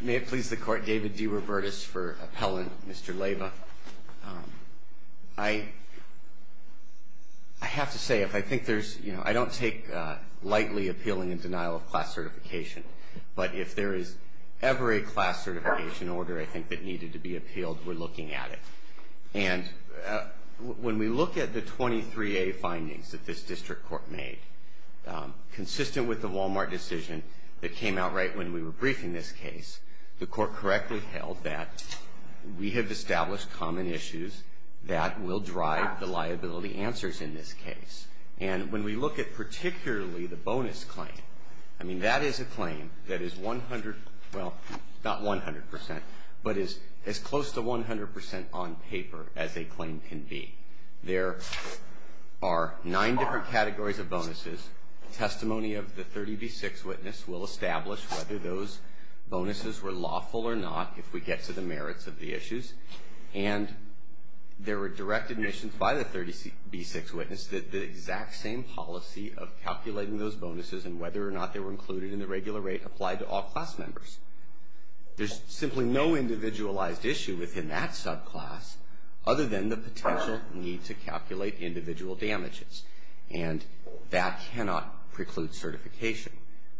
May it please the Court, David D. Robertis for appellant Mr. Leyva. I have to say, I don't take lightly appealing and denial of class certification, but if there is ever a class certification order, I think, that needed to be appealed, we're looking at it. And when we look at the 23A findings that this District Court made, consistent with the Walmart decision that came out right when we were briefing this case, the Court correctly held that we have established common issues that will drive the liability answers in this case. And when we look at particularly the bonus claim, I mean, that is a claim that is 100, well, not 100%, but is as close to 100% on paper as a claim can be. There are nine different categories of bonuses. Testimony of the 30B6 witness will establish whether those bonuses were lawful or not, if we get to the merits of the issues. And there were direct admissions by the 30B6 witness that the exact same policy of calculating those bonuses and whether or not they were included in the regular rate applied to all class members. There's simply no individualized issue within that subclass other than the potential need to calculate individual damages. And that cannot preclude certification.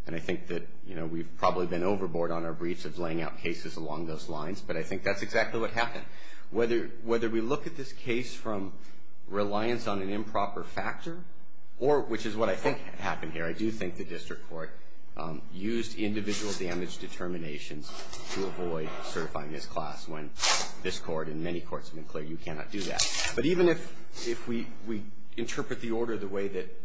And I think that, you know, we've probably been overboard on our briefs of laying out cases along those lines, but I think that's exactly what happened. Whether we look at this case from reliance on an improper factor, or which is what I think happened here, I do think the district court used individual damage determinations to avoid certifying this class, when this court and many courts have been clear you cannot do that. But even if we interpret the order the way that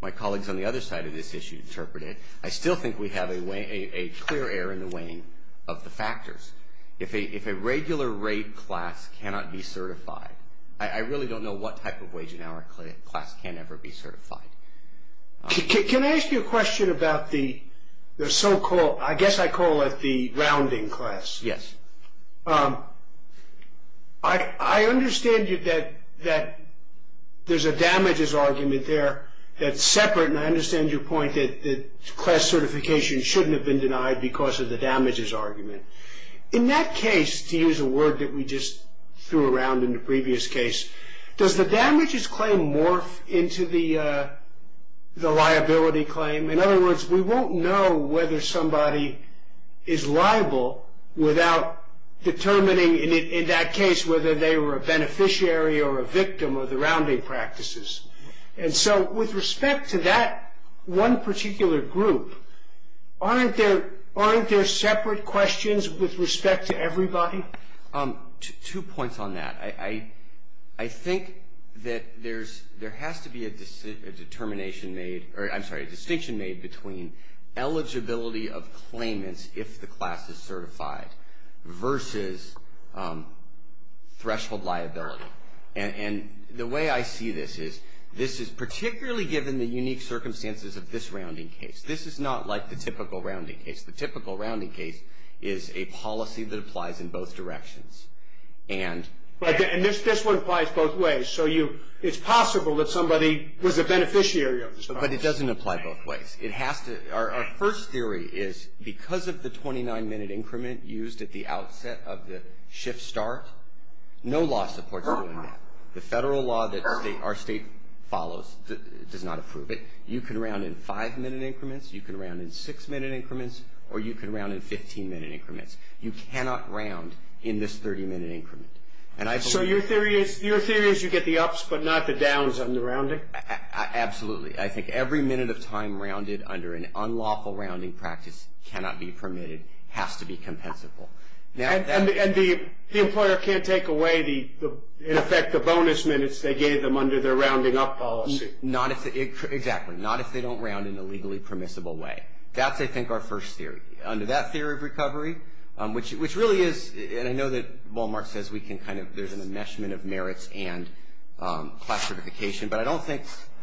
my colleagues on the other side of this issue interpret it, I still think we have a clear error in the weighing of the factors. If a regular rate class cannot be certified, I really don't know what type of wage and hour class can ever be certified. Can I ask you a question about the so-called, I guess I call it the rounding class? Yes. I understand that there's a damages argument there that's separate, and I understand your point that class certification shouldn't have been denied because of the damages argument. In that case, to use a word that we just threw around in the previous case, does the damages claim morph into the liability claim? In other words, we won't know whether somebody is liable without determining, in that case, whether they were a beneficiary or a victim of the rounding practices. And so with respect to that one particular group, aren't there separate questions with respect to everybody? Two points on that. I think that there has to be a distinction made between eligibility of claimants if the class is certified versus threshold liability. And the way I see this is, this is particularly given the unique circumstances of this rounding case. This is not like the typical rounding case. The typical rounding case is a policy that applies in both directions. And this one applies both ways. So it's possible that somebody was a beneficiary of this. But it doesn't apply both ways. Our first theory is because of the 29-minute increment used at the outset of the shift start, no law supports doing that. The federal law that our state follows does not approve it. You can round in 5-minute increments, you can round in 6-minute increments, or you can round in 15-minute increments. You cannot round in this 30-minute increment. So your theory is you get the ups but not the downs on the rounding? Absolutely. I think every minute of time rounded under an unlawful rounding practice cannot be permitted, has to be compensable. And the employer can't take away, in effect, the bonus minutes they gave them under their rounding up policy? Exactly. Not if they don't round in a legally permissible way. That's, I think, our first theory. Under that theory of recovery, which really is, and I know that Wal-Mart says we can kind of, there's an enmeshment of merits and class certification, but I don't think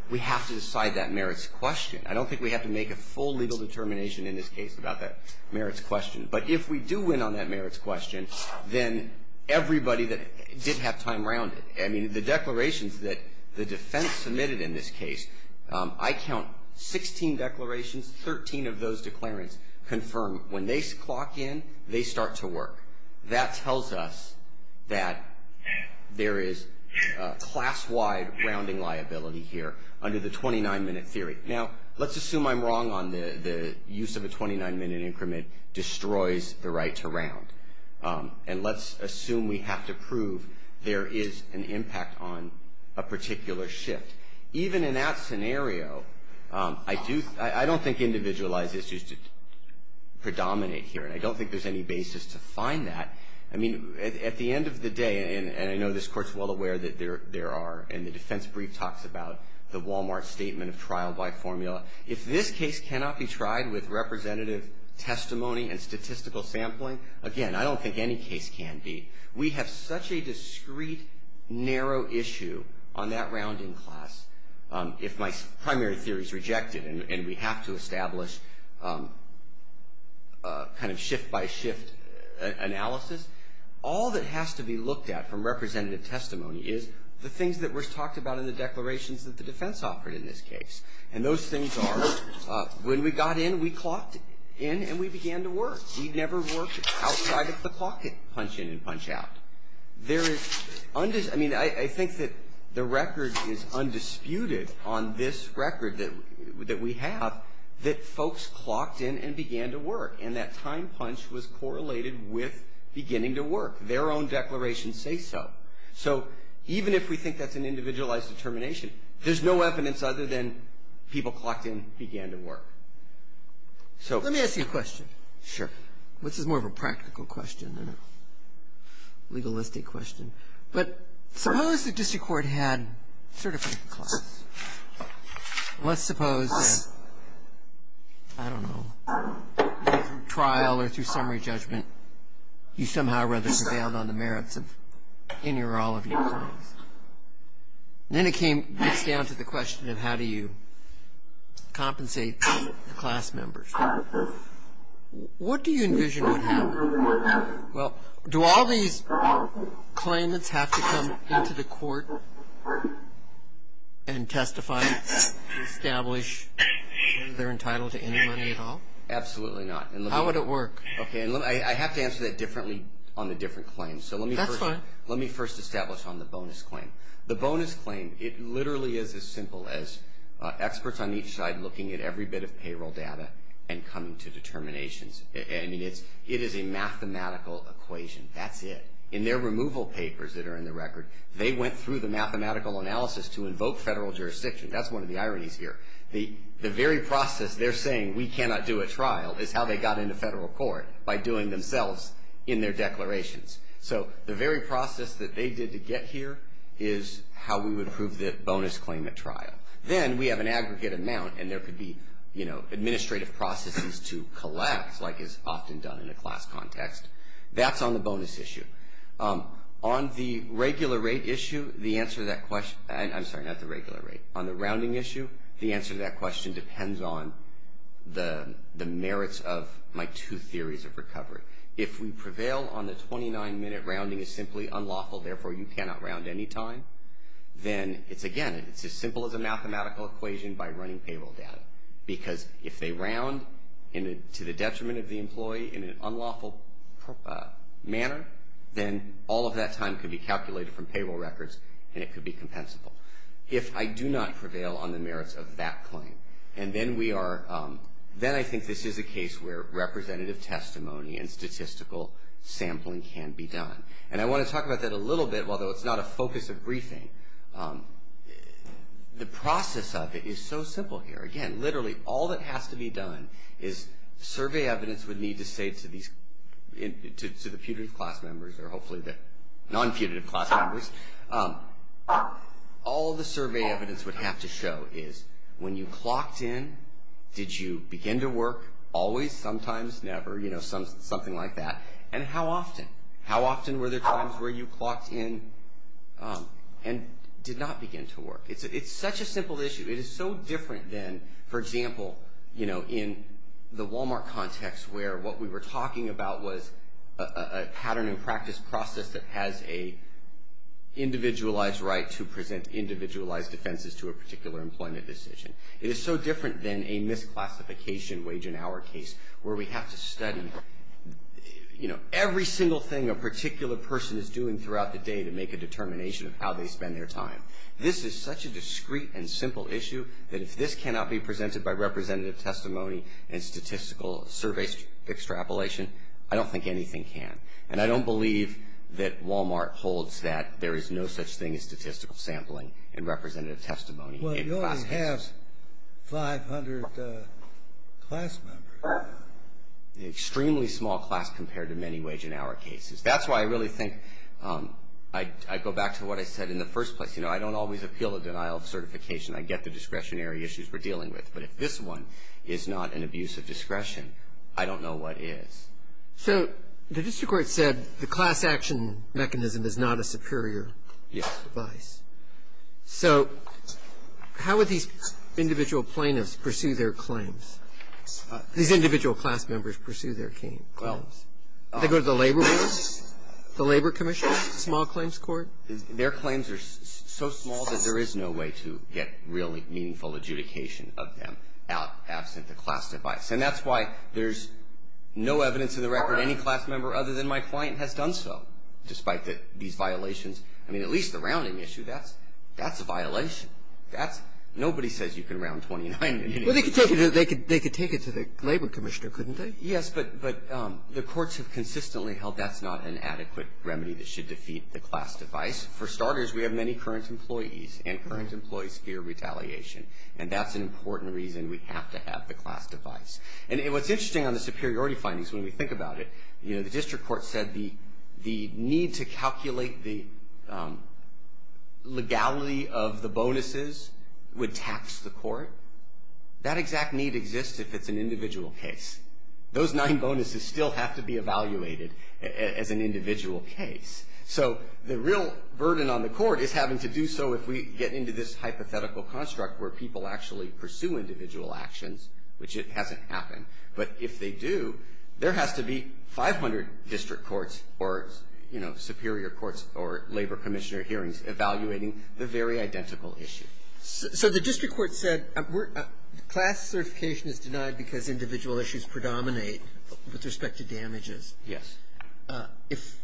we have to decide that merits question. I don't think we have to make a full legal determination in this case about that merits question. But if we do win on that merits question, then everybody that did have time rounded, I mean the declarations that the defense submitted in this case, I count 16 declarations, 13 of those declarations confirm when they clock in, they start to work. That tells us that there is class-wide rounding liability here under the 29-minute theory. Now, let's assume I'm wrong on the use of a 29-minute increment destroys the right to round. And let's assume we have to prove there is an impact on a particular shift. Even in that scenario, I do, I don't think individualized issues predominate here, and I don't think there's any basis to find that. I mean, at the end of the day, and I know this Court's well aware that there are, and the defense brief talks about the Wal-Mart statement of trial-by-formula. If this case cannot be tried with representative testimony and statistical sampling, again, I don't think any case can be. We have such a discrete, narrow issue on that rounding class. If my primary theory is rejected and we have to establish kind of shift-by-shift analysis, all that has to be looked at from representative testimony is the things that were talked about in the declarations that the defense offered in this case. And those things are, when we got in, we clocked in and we began to work. We never worked outside of the clock to punch in and punch out. There is, I mean, I think that the record is undisputed on this record that we have that folks clocked in and began to work. And that time punch was correlated with beginning to work. Their own declarations say so. So even if we think that's an individualized determination, there's no evidence other than people clocked in began to work. So let me ask you a question. Sure. This is more of a practical question than a legalistic question. But suppose the district court had certified class. Let's suppose, I don't know, trial or through summary judgment, you somehow or other prevailed on the merits of any or all of your claims. Then it gets down to the question of how do you compensate the class members. What do you envision would happen? Well, do all these claimants have to come into the court and testify to establish whether they're entitled to any money at all? Absolutely not. How would it work? Okay, I have to answer that differently on the different claims. That's fine. Let me first establish on the bonus claim. The bonus claim, it literally is as simple as experts on each side looking at every bit of payroll data and coming to determinations. I mean, it is a mathematical equation. That's it. In their removal papers that are in the record, they went through the mathematical analysis to invoke federal jurisdiction. That's one of the ironies here. The very process they're saying, we cannot do a trial is how they got into federal court, by doing themselves in their declarations. So the very process that they did to get here is how we would approve the bonus claim at trial. Then we have an aggregate amount, and there could be administrative processes to collapse, like is often done in a class context. That's on the bonus issue. On the rounding issue, the answer to that question depends on the merits of my two theories of recovery. If we prevail on the 29-minute rounding is simply unlawful, therefore you cannot round any time, then it's, again, it's as simple as a mathematical equation by running payroll data. Because if they round to the detriment of the employee in an unlawful manner, then all of that time could be calculated from payroll records, and it could be compensable. If I do not prevail on the merits of that claim, and then we are, then I think this is a case where representative testimony and statistical sampling can be done. And I want to talk about that a little bit, although it's not a focus of briefing. The process of it is so simple here. Again, literally all that has to be done is survey evidence would need to say to these, to the putative class members, or hopefully the non-putative class members, all the survey evidence would have to show is when you clocked in, did you begin to work? Always, sometimes, never, you know, something like that. And how often? How often were there times where you clocked in and did not begin to work? It's such a simple issue. It is so different than, for example, you know, in the Walmart context where what we were talking about was a pattern and practice process that has a individualized right to present individualized defenses to a particular employment decision. It is so different than a misclassification wage in our case where we have to study, you know, every single thing a particular person is doing throughout the day to make a determination of how they spend their time. This is such a discreet and simple issue that if this cannot be presented by representative testimony and statistical survey extrapolation, I don't think anything can. And I don't believe that Walmart holds that there is no such thing as statistical sampling and representative testimony in class cases. Well, you only have 500 class members. Extremely small class compared to many wage and hour cases. That's why I really think I go back to what I said in the first place. You know, I don't always appeal the denial of certification. I get the discretionary issues we're dealing with. But if this one is not an abuse of discretion, I don't know what is. So the district court said the class action mechanism is not a superior device. Yes. So how would these individual plaintiffs pursue their claims? These individual class members pursue their claims. Do they go to the labor commission, small claims court? Their claims are so small that there is no way to get really meaningful adjudication of them out absent the class device. And that's why there's no evidence in the record any class member other than my client has done so, despite these violations. I mean, at least the rounding issue, that's a violation. Nobody says you can round 29. Well, they could take it to the labor commissioner, couldn't they? Yes, but the courts have consistently held that's not an adequate remedy that should defeat the class device. For starters, we have many current employees, and current employees fear retaliation. And that's an important reason we have to have the class device. And what's interesting on the superiority findings, when we think about it, the district court said the need to calculate the legality of the bonuses would tax the court. That exact need exists if it's an individual case. Those nine bonuses still have to be evaluated as an individual case. So the real burden on the court is having to do so if we get into this hypothetical construct where people actually pursue individual actions, which it hasn't happened. But if they do, there has to be 500 district courts or, you know, superior courts or labor commissioner hearings evaluating the very identical issue. So the district court said class certification is denied because individual issues predominate with respect to damages. Yes. If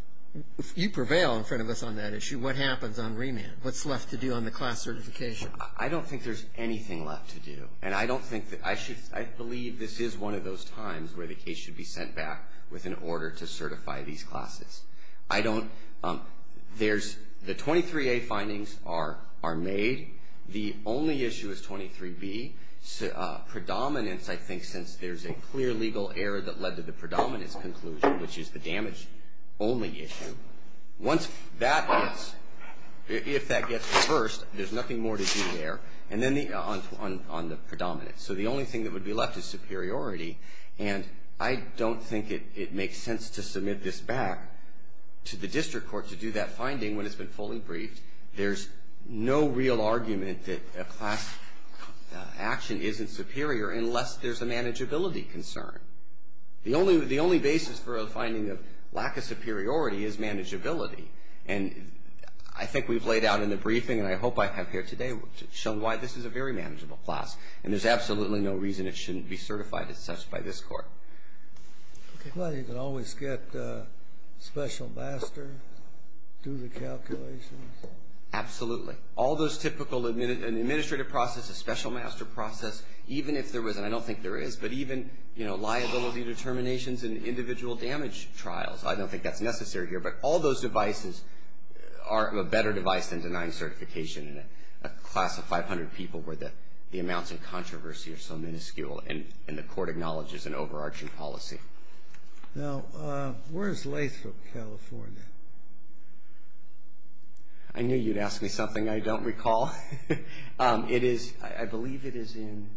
you prevail in front of us on that issue, what happens on remand? What's left to do on the class certification? I don't think there's anything left to do. And I don't think that I should – I believe this is one of those times where the case should be sent back with an order to certify these classes. I don't – there's – the 23A findings are made. The only issue is 23B. Predominance, I think, since there's a clear legal error that led to the predominance conclusion, which is the damage-only issue. Once that gets – if that gets reversed, there's nothing more to do there. And then the – on the predominance. So the only thing that would be left is superiority. And I don't think it makes sense to submit this back to the district court to do that finding when it's been fully briefed. There's no real argument that a class action isn't superior unless there's a manageability concern. The only basis for a finding of lack of superiority is manageability. And I think we've laid out in the briefing, and I hope I have here today, shown why this is a very manageable class. And there's absolutely no reason it shouldn't be certified as such by this court. Well, you can always get special master, do the calculations. Absolutely. All those typical – an administrative process, a special master process, even if there is – and I don't think there is – but even, you know, liability determinations and individual damage trials. I don't think that's necessary here. But all those devices are a better device than denying certification in a class of controversy or so minuscule, and the court acknowledges an overarching policy. Now, where is Lathrop, California? I knew you'd ask me something I don't recall. It is – I believe it is in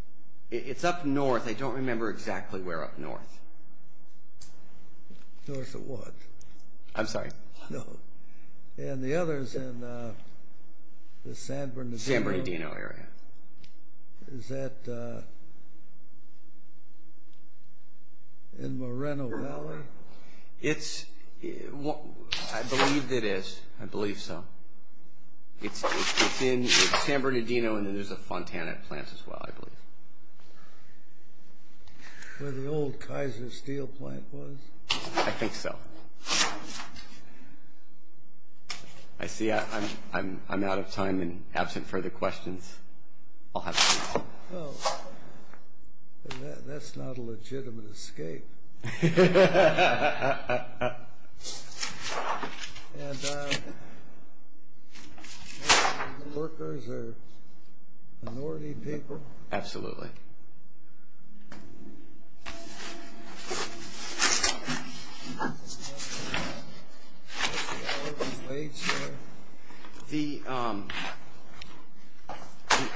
– it's up north. I don't remember exactly where up north. North of what? I'm sorry. No. And the other is in the San Bernardino. San Bernardino area. Is that in Moreno Valley? It's – I believe it is. I believe so. It's in San Bernardino, and then there's a Fontana plant as well, I believe. Where the old Kaiser Steel plant was? I think so. I see I'm out of time, and absent further questions, I'll have to leave. Well, that's not a legitimate escape. And workers are minority people? Absolutely. The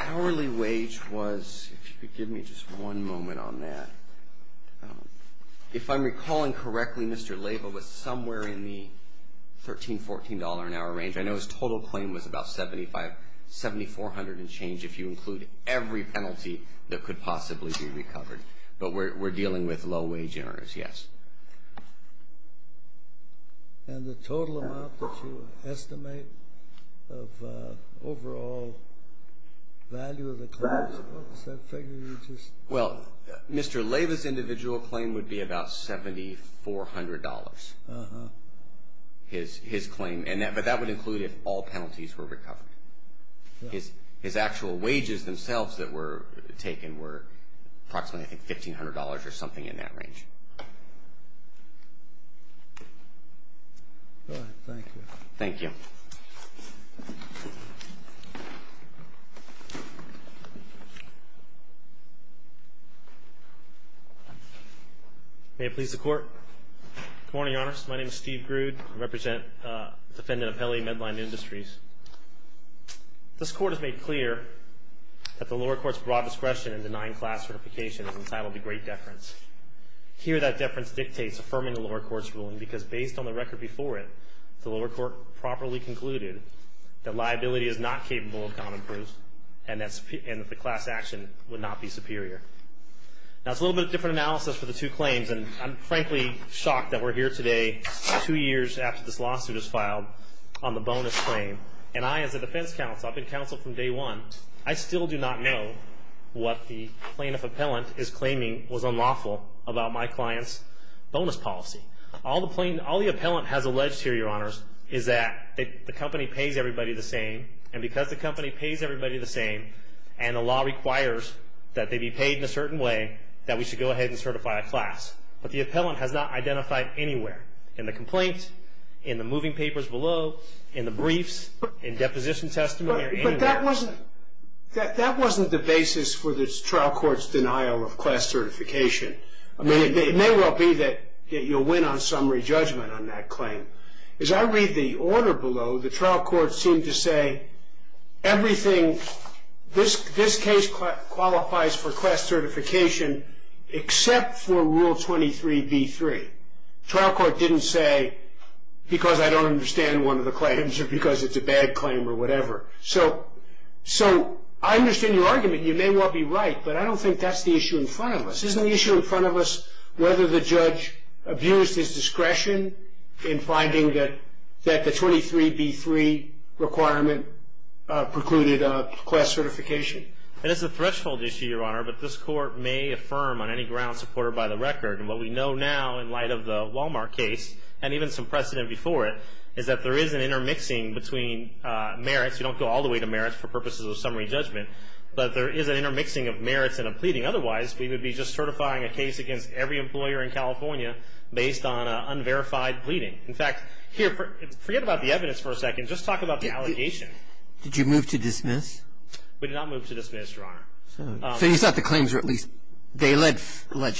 hourly wage was – if you could give me just one moment on that. If I'm recalling correctly, Mr. Leyva was somewhere in the $13, $14 an hour range. I know his total claim was about $7,400 and change if you include every penalty that was could possibly be recovered, but we're dealing with low-wage earners, yes. And the total amount that you estimate of overall value of the claim? What's that figure you just – Well, Mr. Leyva's individual claim would be about $7,400, his claim, but that would include if all penalties were recovered. His actual wages themselves that were taken were approximately I think $1,500 or something in that range. All right. Thank you. Thank you. Good morning, Your Honor. My name is Steve Grude. I represent the defendant of Pele Medline Industries. This Court has made clear that the lower court's broad discretion in denying class certification is entitled to great deference. Here that deference dictates affirming the lower court's ruling because based on the record before it, the lower court properly concluded that liability is not capable of common proof and that the class action would not be superior. Now, it's a little bit of a different analysis for the two claims, and I'm frankly shocked that we're here today two years after this lawsuit was filed on the bonus claim, and I as a defense counsel, I've been counsel from day one, I still do not know what the plaintiff appellant is claiming was unlawful about my client's bonus policy. All the appellant has alleged here, Your Honors, is that the company pays everybody the same, and because the company pays everybody the same and the law requires that they be paid in a certain way, that we should go ahead and certify a class. But the appellant has not identified anywhere in the complaint, in the moving papers below, in the briefs, in deposition testimony or anywhere else. But that wasn't the basis for the trial court's denial of class certification. I mean, it may well be that you'll win on summary judgment on that claim. As I read the order below, the trial court seemed to say everything, this case qualifies for class certification except for Rule 23B3. Trial court didn't say because I don't understand one of the claims or because it's a bad claim or whatever. So I understand your argument, you may well be right, but I don't think that's the issue in front of us. Isn't the issue in front of us whether the judge abused his discretion in finding that the 23B3 requirement precluded class certification? And it's a threshold issue, Your Honor, but this court may affirm on any ground supported by the record. And what we know now in light of the Walmart case and even some precedent before it, is that there is an intermixing between merits. You don't go all the way to merits for purposes of summary judgment, but there is an intermixing of merits and a pleading. Otherwise, we would be just certifying a case against every employer in California based on unverified pleading. In fact, here, forget about the evidence for a second. Just talk about the allegation. Did you move to dismiss? We did not move to dismiss, Your Honor. So you thought the claims were at least, they alleged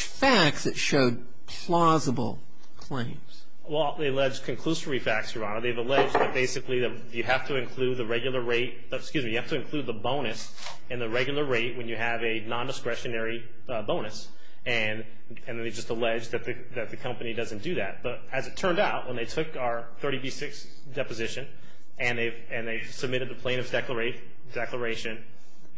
facts that showed plausible claims. Well, they alleged conclusory facts, Your Honor. They've alleged that basically you have to include the regular rate, excuse me, you have to include the bonus in the regular rate when you have a nondiscretionary bonus. And they just alleged that the company doesn't do that. But as it turned out, when they took our 30B6 deposition and they submitted the plaintiff's declaration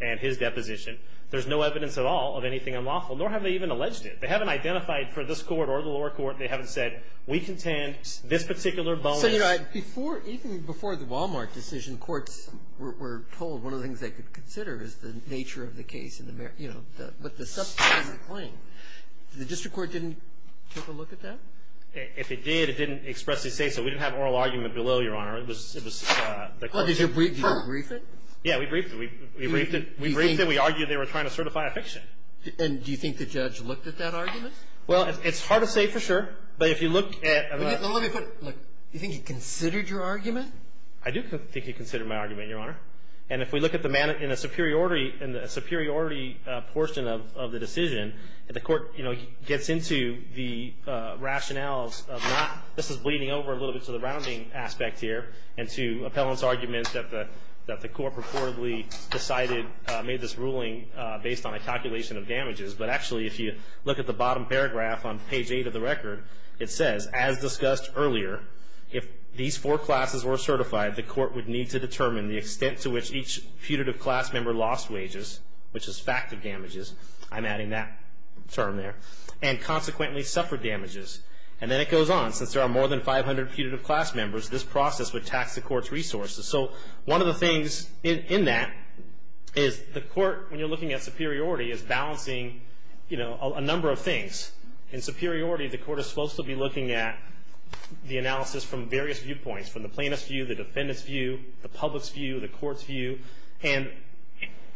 and his deposition, there's no evidence at all of anything unlawful, nor have they even alleged it. They haven't identified for this court or the lower court. They haven't said we contend this particular bonus. So, Your Honor, before, even before the Walmart decision, courts were told one of the things they could consider is the nature of the case, you know, but the substance of the claim. The district court didn't take a look at that? If it did, it didn't expressly say so. We didn't have an oral argument below, Your Honor. It was, it was the court. Well, did you brief it? Yeah, we briefed it. We briefed it. We briefed it. We argued they were trying to certify a fiction. And do you think the judge looked at that argument? Well, it's hard to say for sure. But if you look at... Well, let me put it... Do you think he considered your argument? I do think he considered my argument, Your Honor. And if we look at the, in the superiority portion of the decision, the court, you know, gets into the rationales of not... This is bleeding over a little bit to the rounding aspect here and to appellant's arguments that the court purportedly decided, made this ruling based on a calculation of damages. But actually, if you look at the bottom paragraph on page 8 of the record, it says, as discussed earlier, if these four classes were certified, the court would need to determine the extent to which each putative class member lost wages, which is fact of damages. I'm adding that term there. And consequently suffered damages. And then it goes on. Since there are more than 500 putative class members, this process would tax the court's resources. So one of the things in that is the court, when you're looking at superiority, is balancing, you know, a number of things. In superiority, the court is supposed to be looking at the analysis from various viewpoints, from the plaintiff's view, the defendant's view, the public's view, the court's view. And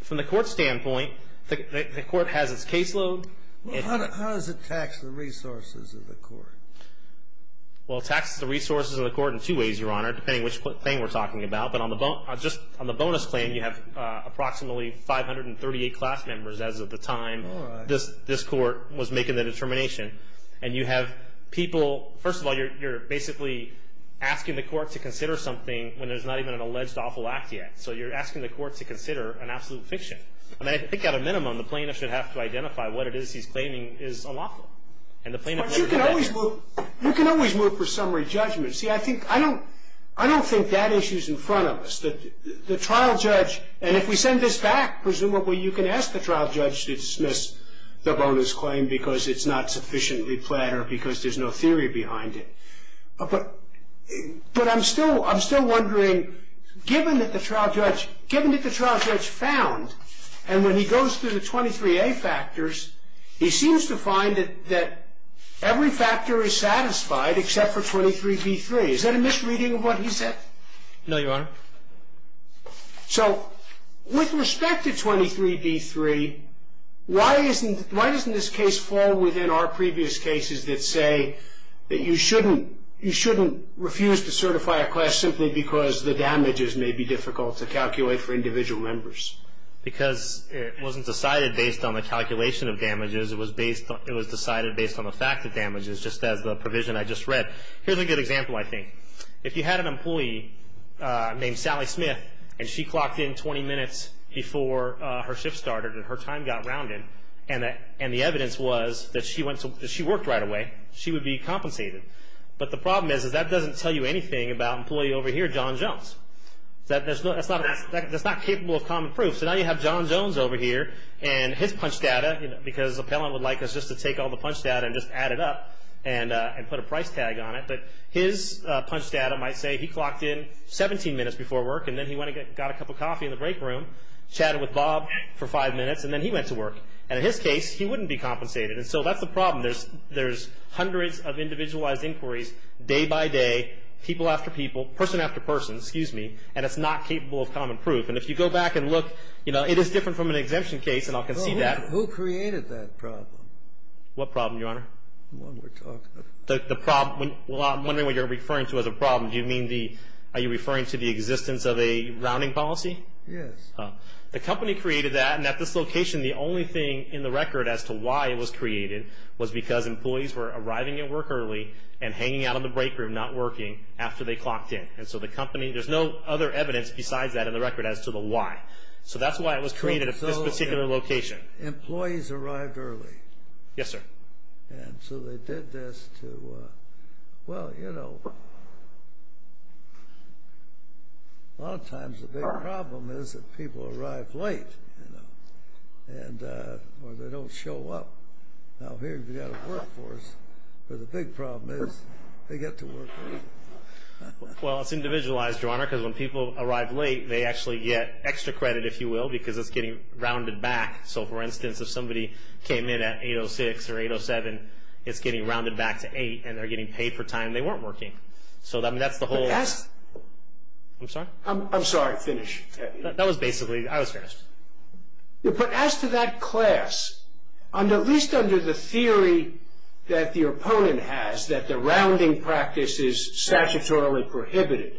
from the court's standpoint, the court has its caseload. How does it tax the resources of the court? Well, it taxes the resources of the court in two ways, Your Honor, depending on which thing we're talking about. But on the bonus plan, you have approximately 538 class members as of the time this court was making the determination. And you have people, first of all, you're basically asking the court to consider something when there's not even an alleged awful act yet. So you're asking the court to consider an absolute fiction. I mean, I think at a minimum, the plaintiff should have to identify what it is he's claiming is unlawful. And the plaintiff should do that. But you can always move for summary judgment. See, I don't think that issue is in front of us. The trial judge, and if we send this back, presumably you can ask the trial judge to dismiss the bonus claim because it's not sufficiently flat or because there's no theory behind it. But I'm still wondering, given that the trial judge found, and when he goes through the 23A factors, he seems to find that every factor is satisfied except for 23B3. Is that a misreading of what he said? No, Your Honor. So with respect to 23B3, why doesn't this case fall within our previous cases that say that you shouldn't refuse to certify a class simply because the damages may be difficult to calculate for individual members? Because it wasn't decided based on the calculation of damages. It was decided based on the fact of damages, just as the provision I just read. Here's a good example, I think. If you had an employee named Sally Smith, and she clocked in 20 minutes before her shift started and her time got rounded, and the evidence was that she worked right away, she would be compensated. But the problem is that doesn't tell you anything about employee over here, John Jones. That's not capable of common proof. So now you have John Jones over here, and his punch data, because the appellant would like us just to take all the punch data and just add it up and put a price tag on it. But his punch data might say he clocked in 17 minutes before work, and then he went and got a cup of coffee in the break room, chatted with Bob for five minutes, and then he went to work. And in his case, he wouldn't be compensated. And so that's the problem. There's hundreds of individualized inquiries day by day, people after people, person after person, excuse me, and it's not capable of common proof. And if you go back and look, you know, it is different from an exemption case, and I'll concede that. Well, who created that problem? What problem, Your Honor? The one we're talking about. The problem, well, I'm wondering what you're referring to as a problem. Do you mean the, are you referring to the existence of a rounding policy? Yes. The company created that, and at this location, the only thing in the record as to why it was created was because employees were arriving at work early and hanging out in the break room not working after they clocked in. And so the company, there's no other evidence besides that in the record as to the why. So that's why it was created at this particular location. So employees arrived early. Yes, sir. And so they did this to, well, you know, a lot of times the big problem is that people arrive late, you know, or they don't show up. Now, here you've got a workforce where the big problem is they get to work late. Well, it's individualized, Your Honor, because when people arrive late, they actually get extra credit, if you will, because it's getting rounded back. So, for instance, if somebody came in at 8.06 or 8.07, it's getting rounded back to 8, and they're getting paid for time they weren't working. So that's the whole. I'm sorry? I'm sorry. Finish. That was basically, I was finished. But as to that class, at least under the theory that the opponent has, that the rounding practice is statutorily prohibited,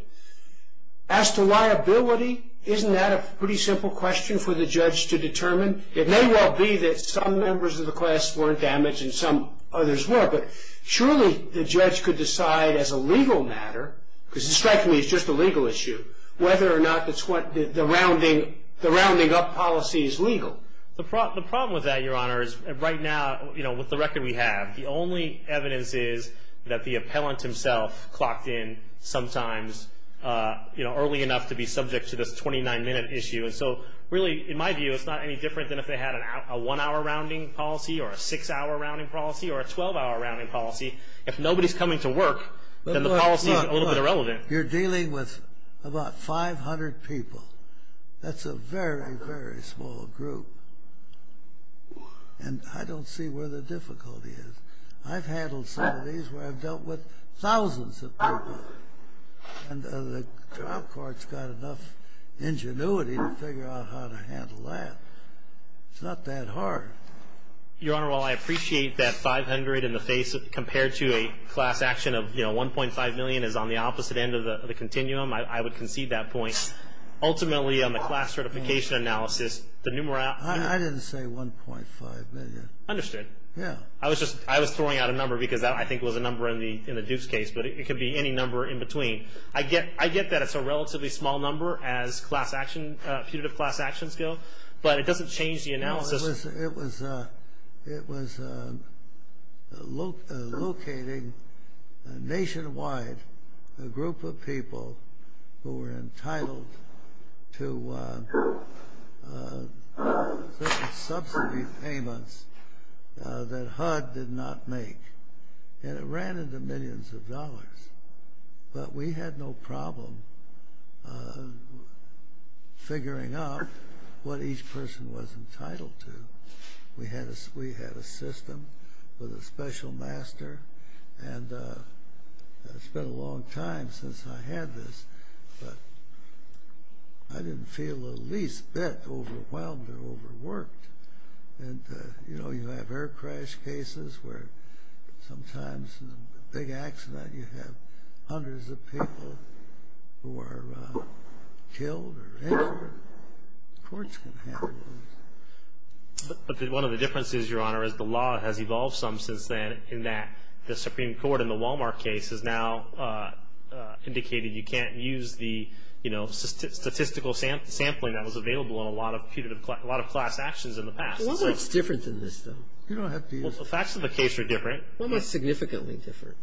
as to liability, isn't that a pretty simple question for the judge to determine? It may well be that some members of the class weren't damaged and some others were, but surely the judge could decide as a legal matter, because it strikes me as just a legal issue, whether or not the rounding up policy is legal. The problem with that, Your Honor, is right now, you know, with the record we have, the only evidence is that the appellant himself clocked in sometimes, you know, early enough to be subject to this 29-minute issue. And so, really, in my view, it's not any different than if they had a one-hour rounding policy or a six-hour rounding policy or a 12-hour rounding policy. If nobody's coming to work, then the policy is a little bit irrelevant. You're dealing with about 500 people. That's a very, very small group. And I don't see where the difficulty is. I've handled some of these where I've dealt with thousands of people. And the trial court's got enough ingenuity to figure out how to handle that. It's not that hard. Your Honor, while I appreciate that 500 in the face compared to a class action of, you know, $1.5 million is on the opposite end of the continuum, I would concede that point. Ultimately, on the class certification analysis, the numerality of the number of cases I didn't say $1.5 million. Understood. Yeah. I was just throwing out a number because that, I think, was a number in the Duke's case, but it could be any number in between. I get that it's a relatively small number as punitive class actions go, but it doesn't change the analysis. It was locating nationwide a group of people who were entitled to subsidy payments that HUD did not make. And it ran into millions of dollars. But we had no problem figuring out what each person was entitled to. We had a system with a special master, and it's been a long time since I had this, but I didn't feel the least bit overwhelmed or overworked. And, you know, you have air crash cases where sometimes in a big accident you have hundreds of people who are killed or injured. Courts can handle those. But one of the differences, Your Honor, is the law has evolved some since then in that the Supreme Court in the Walmart case has now indicated you can't use the, you know, statistical sampling that was available in a lot of class actions in the past. Well, what's different in this, though? Well, the facts of the case are different. Well, what's significantly different?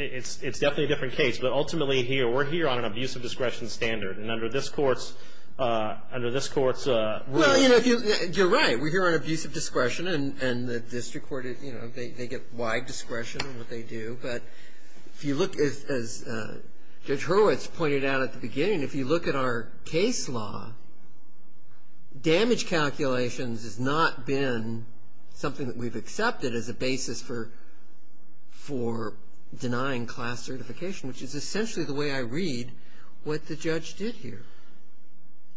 It's definitely a different case. But ultimately, we're here on an abuse of discretion standard, and under this Court's rules. Well, you know, you're right. We're here on abuse of discretion, and the district court, you know, they get wide discretion in what they do. But if you look, as Judge Hurwitz pointed out at the beginning, if you look at our case law, damage calculations has not been something that we've accepted as a basis for denying class certification, which is essentially the way I read what the judge did here.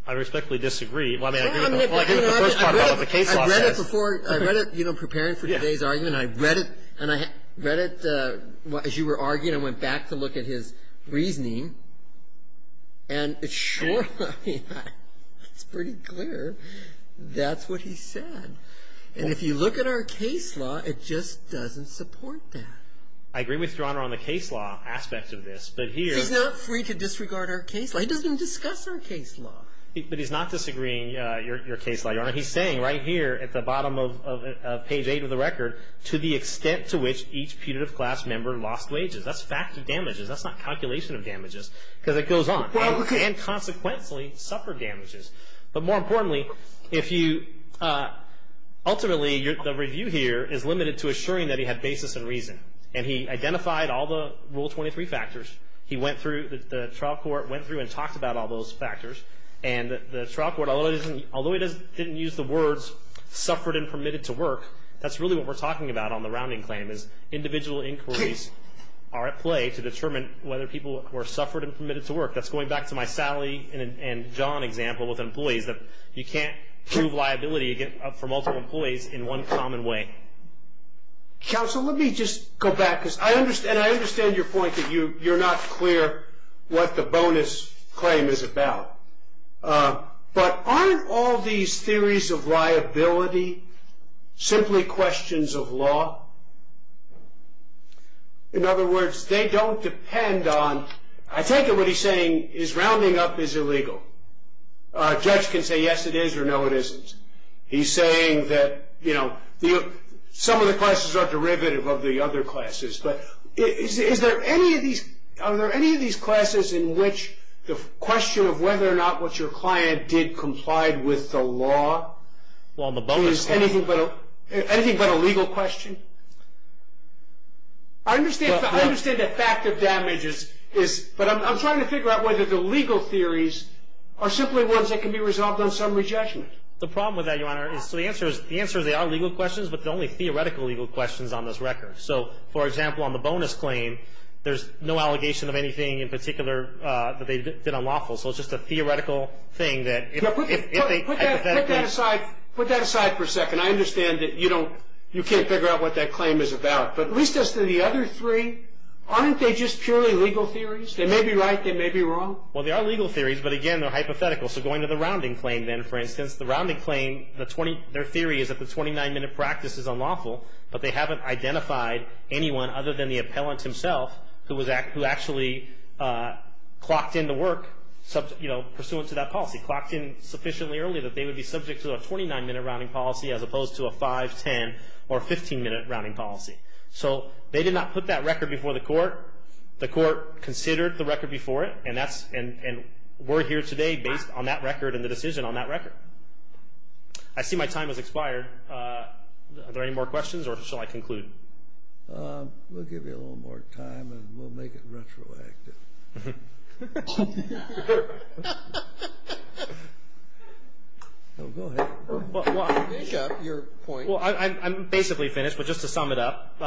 I respectfully disagree. Well, I mean, I agree with the first part about what the case law says. I read it before. I read it, you know, preparing for today's argument. And I read it as you were arguing. I went back to look at his reasoning, and it's pretty clear that's what he said. And if you look at our case law, it just doesn't support that. I agree with Your Honor on the case law aspect of this. He's not free to disregard our case law. He doesn't even discuss our case law. But he's not disagreeing, Your Honor. He's saying right here at the bottom of page 8 of the record, to the extent to which each putative class member lost wages. That's faculty damages. That's not calculation of damages because it goes on. And, consequently, suffered damages. But more importantly, ultimately, the review here is limited to assuring that he had basis and reason. And he identified all the Rule 23 factors. He went through, the trial court went through and talked about all those factors. And the trial court, although he didn't use the words suffered and permitted to work, that's really what we're talking about on the rounding claim is individual inquiries are at play to determine whether people were suffered and permitted to work. That's going back to my Sally and John example with employees, that you can't prove liability for multiple employees in one common way. Counsel, let me just go back. And I understand your point that you're not clear what the bonus claim is about. But aren't all these theories of liability simply questions of law? In other words, they don't depend on – I take it what he's saying is rounding up is illegal. A judge can say yes it is or no it isn't. He's saying that, you know, some of the classes are derivative of the other classes. But is there any of these – are there any of these classes in which the question of whether or not what your client did complied with the law is anything but a legal question? I understand the fact of damages, but I'm trying to figure out whether the legal theories are simply ones that can be resolved on summary judgment. The problem with that, Your Honor, is the answer is they are legal questions, but they're only theoretical legal questions on this record. So, for example, on the bonus claim, there's no allegation of anything in particular that they did unlawful. So it's just a theoretical thing that if they hypothetically – Put that aside for a second. I understand that you can't figure out what that claim is about. But at least as to the other three, aren't they just purely legal theories? They may be right. They may be wrong. Well, they are legal theories, but, again, they're hypothetical. So going to the rounding claim then, for instance, the rounding claim, their theory is that the 29-minute practice is unlawful, but they haven't identified anyone other than the appellant himself who actually clocked in to work pursuant to that policy. Clocked in sufficiently early that they would be subject to a 29-minute rounding policy as opposed to a 5, 10, or 15-minute rounding policy. So they did not put that record before the court. The court considered the record before it, and we're here today based on that record and the decision on that record. I see my time has expired. Are there any more questions, or shall I conclude? We'll give you a little more time, and we'll make it retroactive. Go ahead. Jacob, your point. Well, I'm basically finished, but just to sum it up,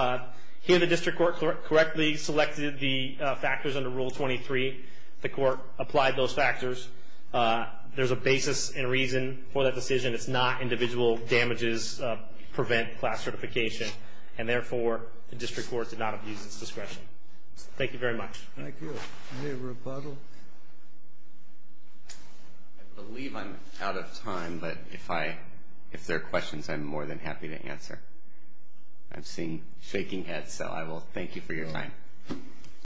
here the district court correctly selected the factors under Rule 23. The court applied those factors. There's a basis and reason for that decision. It's not individual damages prevent class certification, and therefore the district court did not abuse its discretion. Thank you very much. Thank you. Any rebuttal? I believe I'm out of time, but if there are questions, I'm more than happy to answer. I've seen shaking heads, so I will thank you for your time.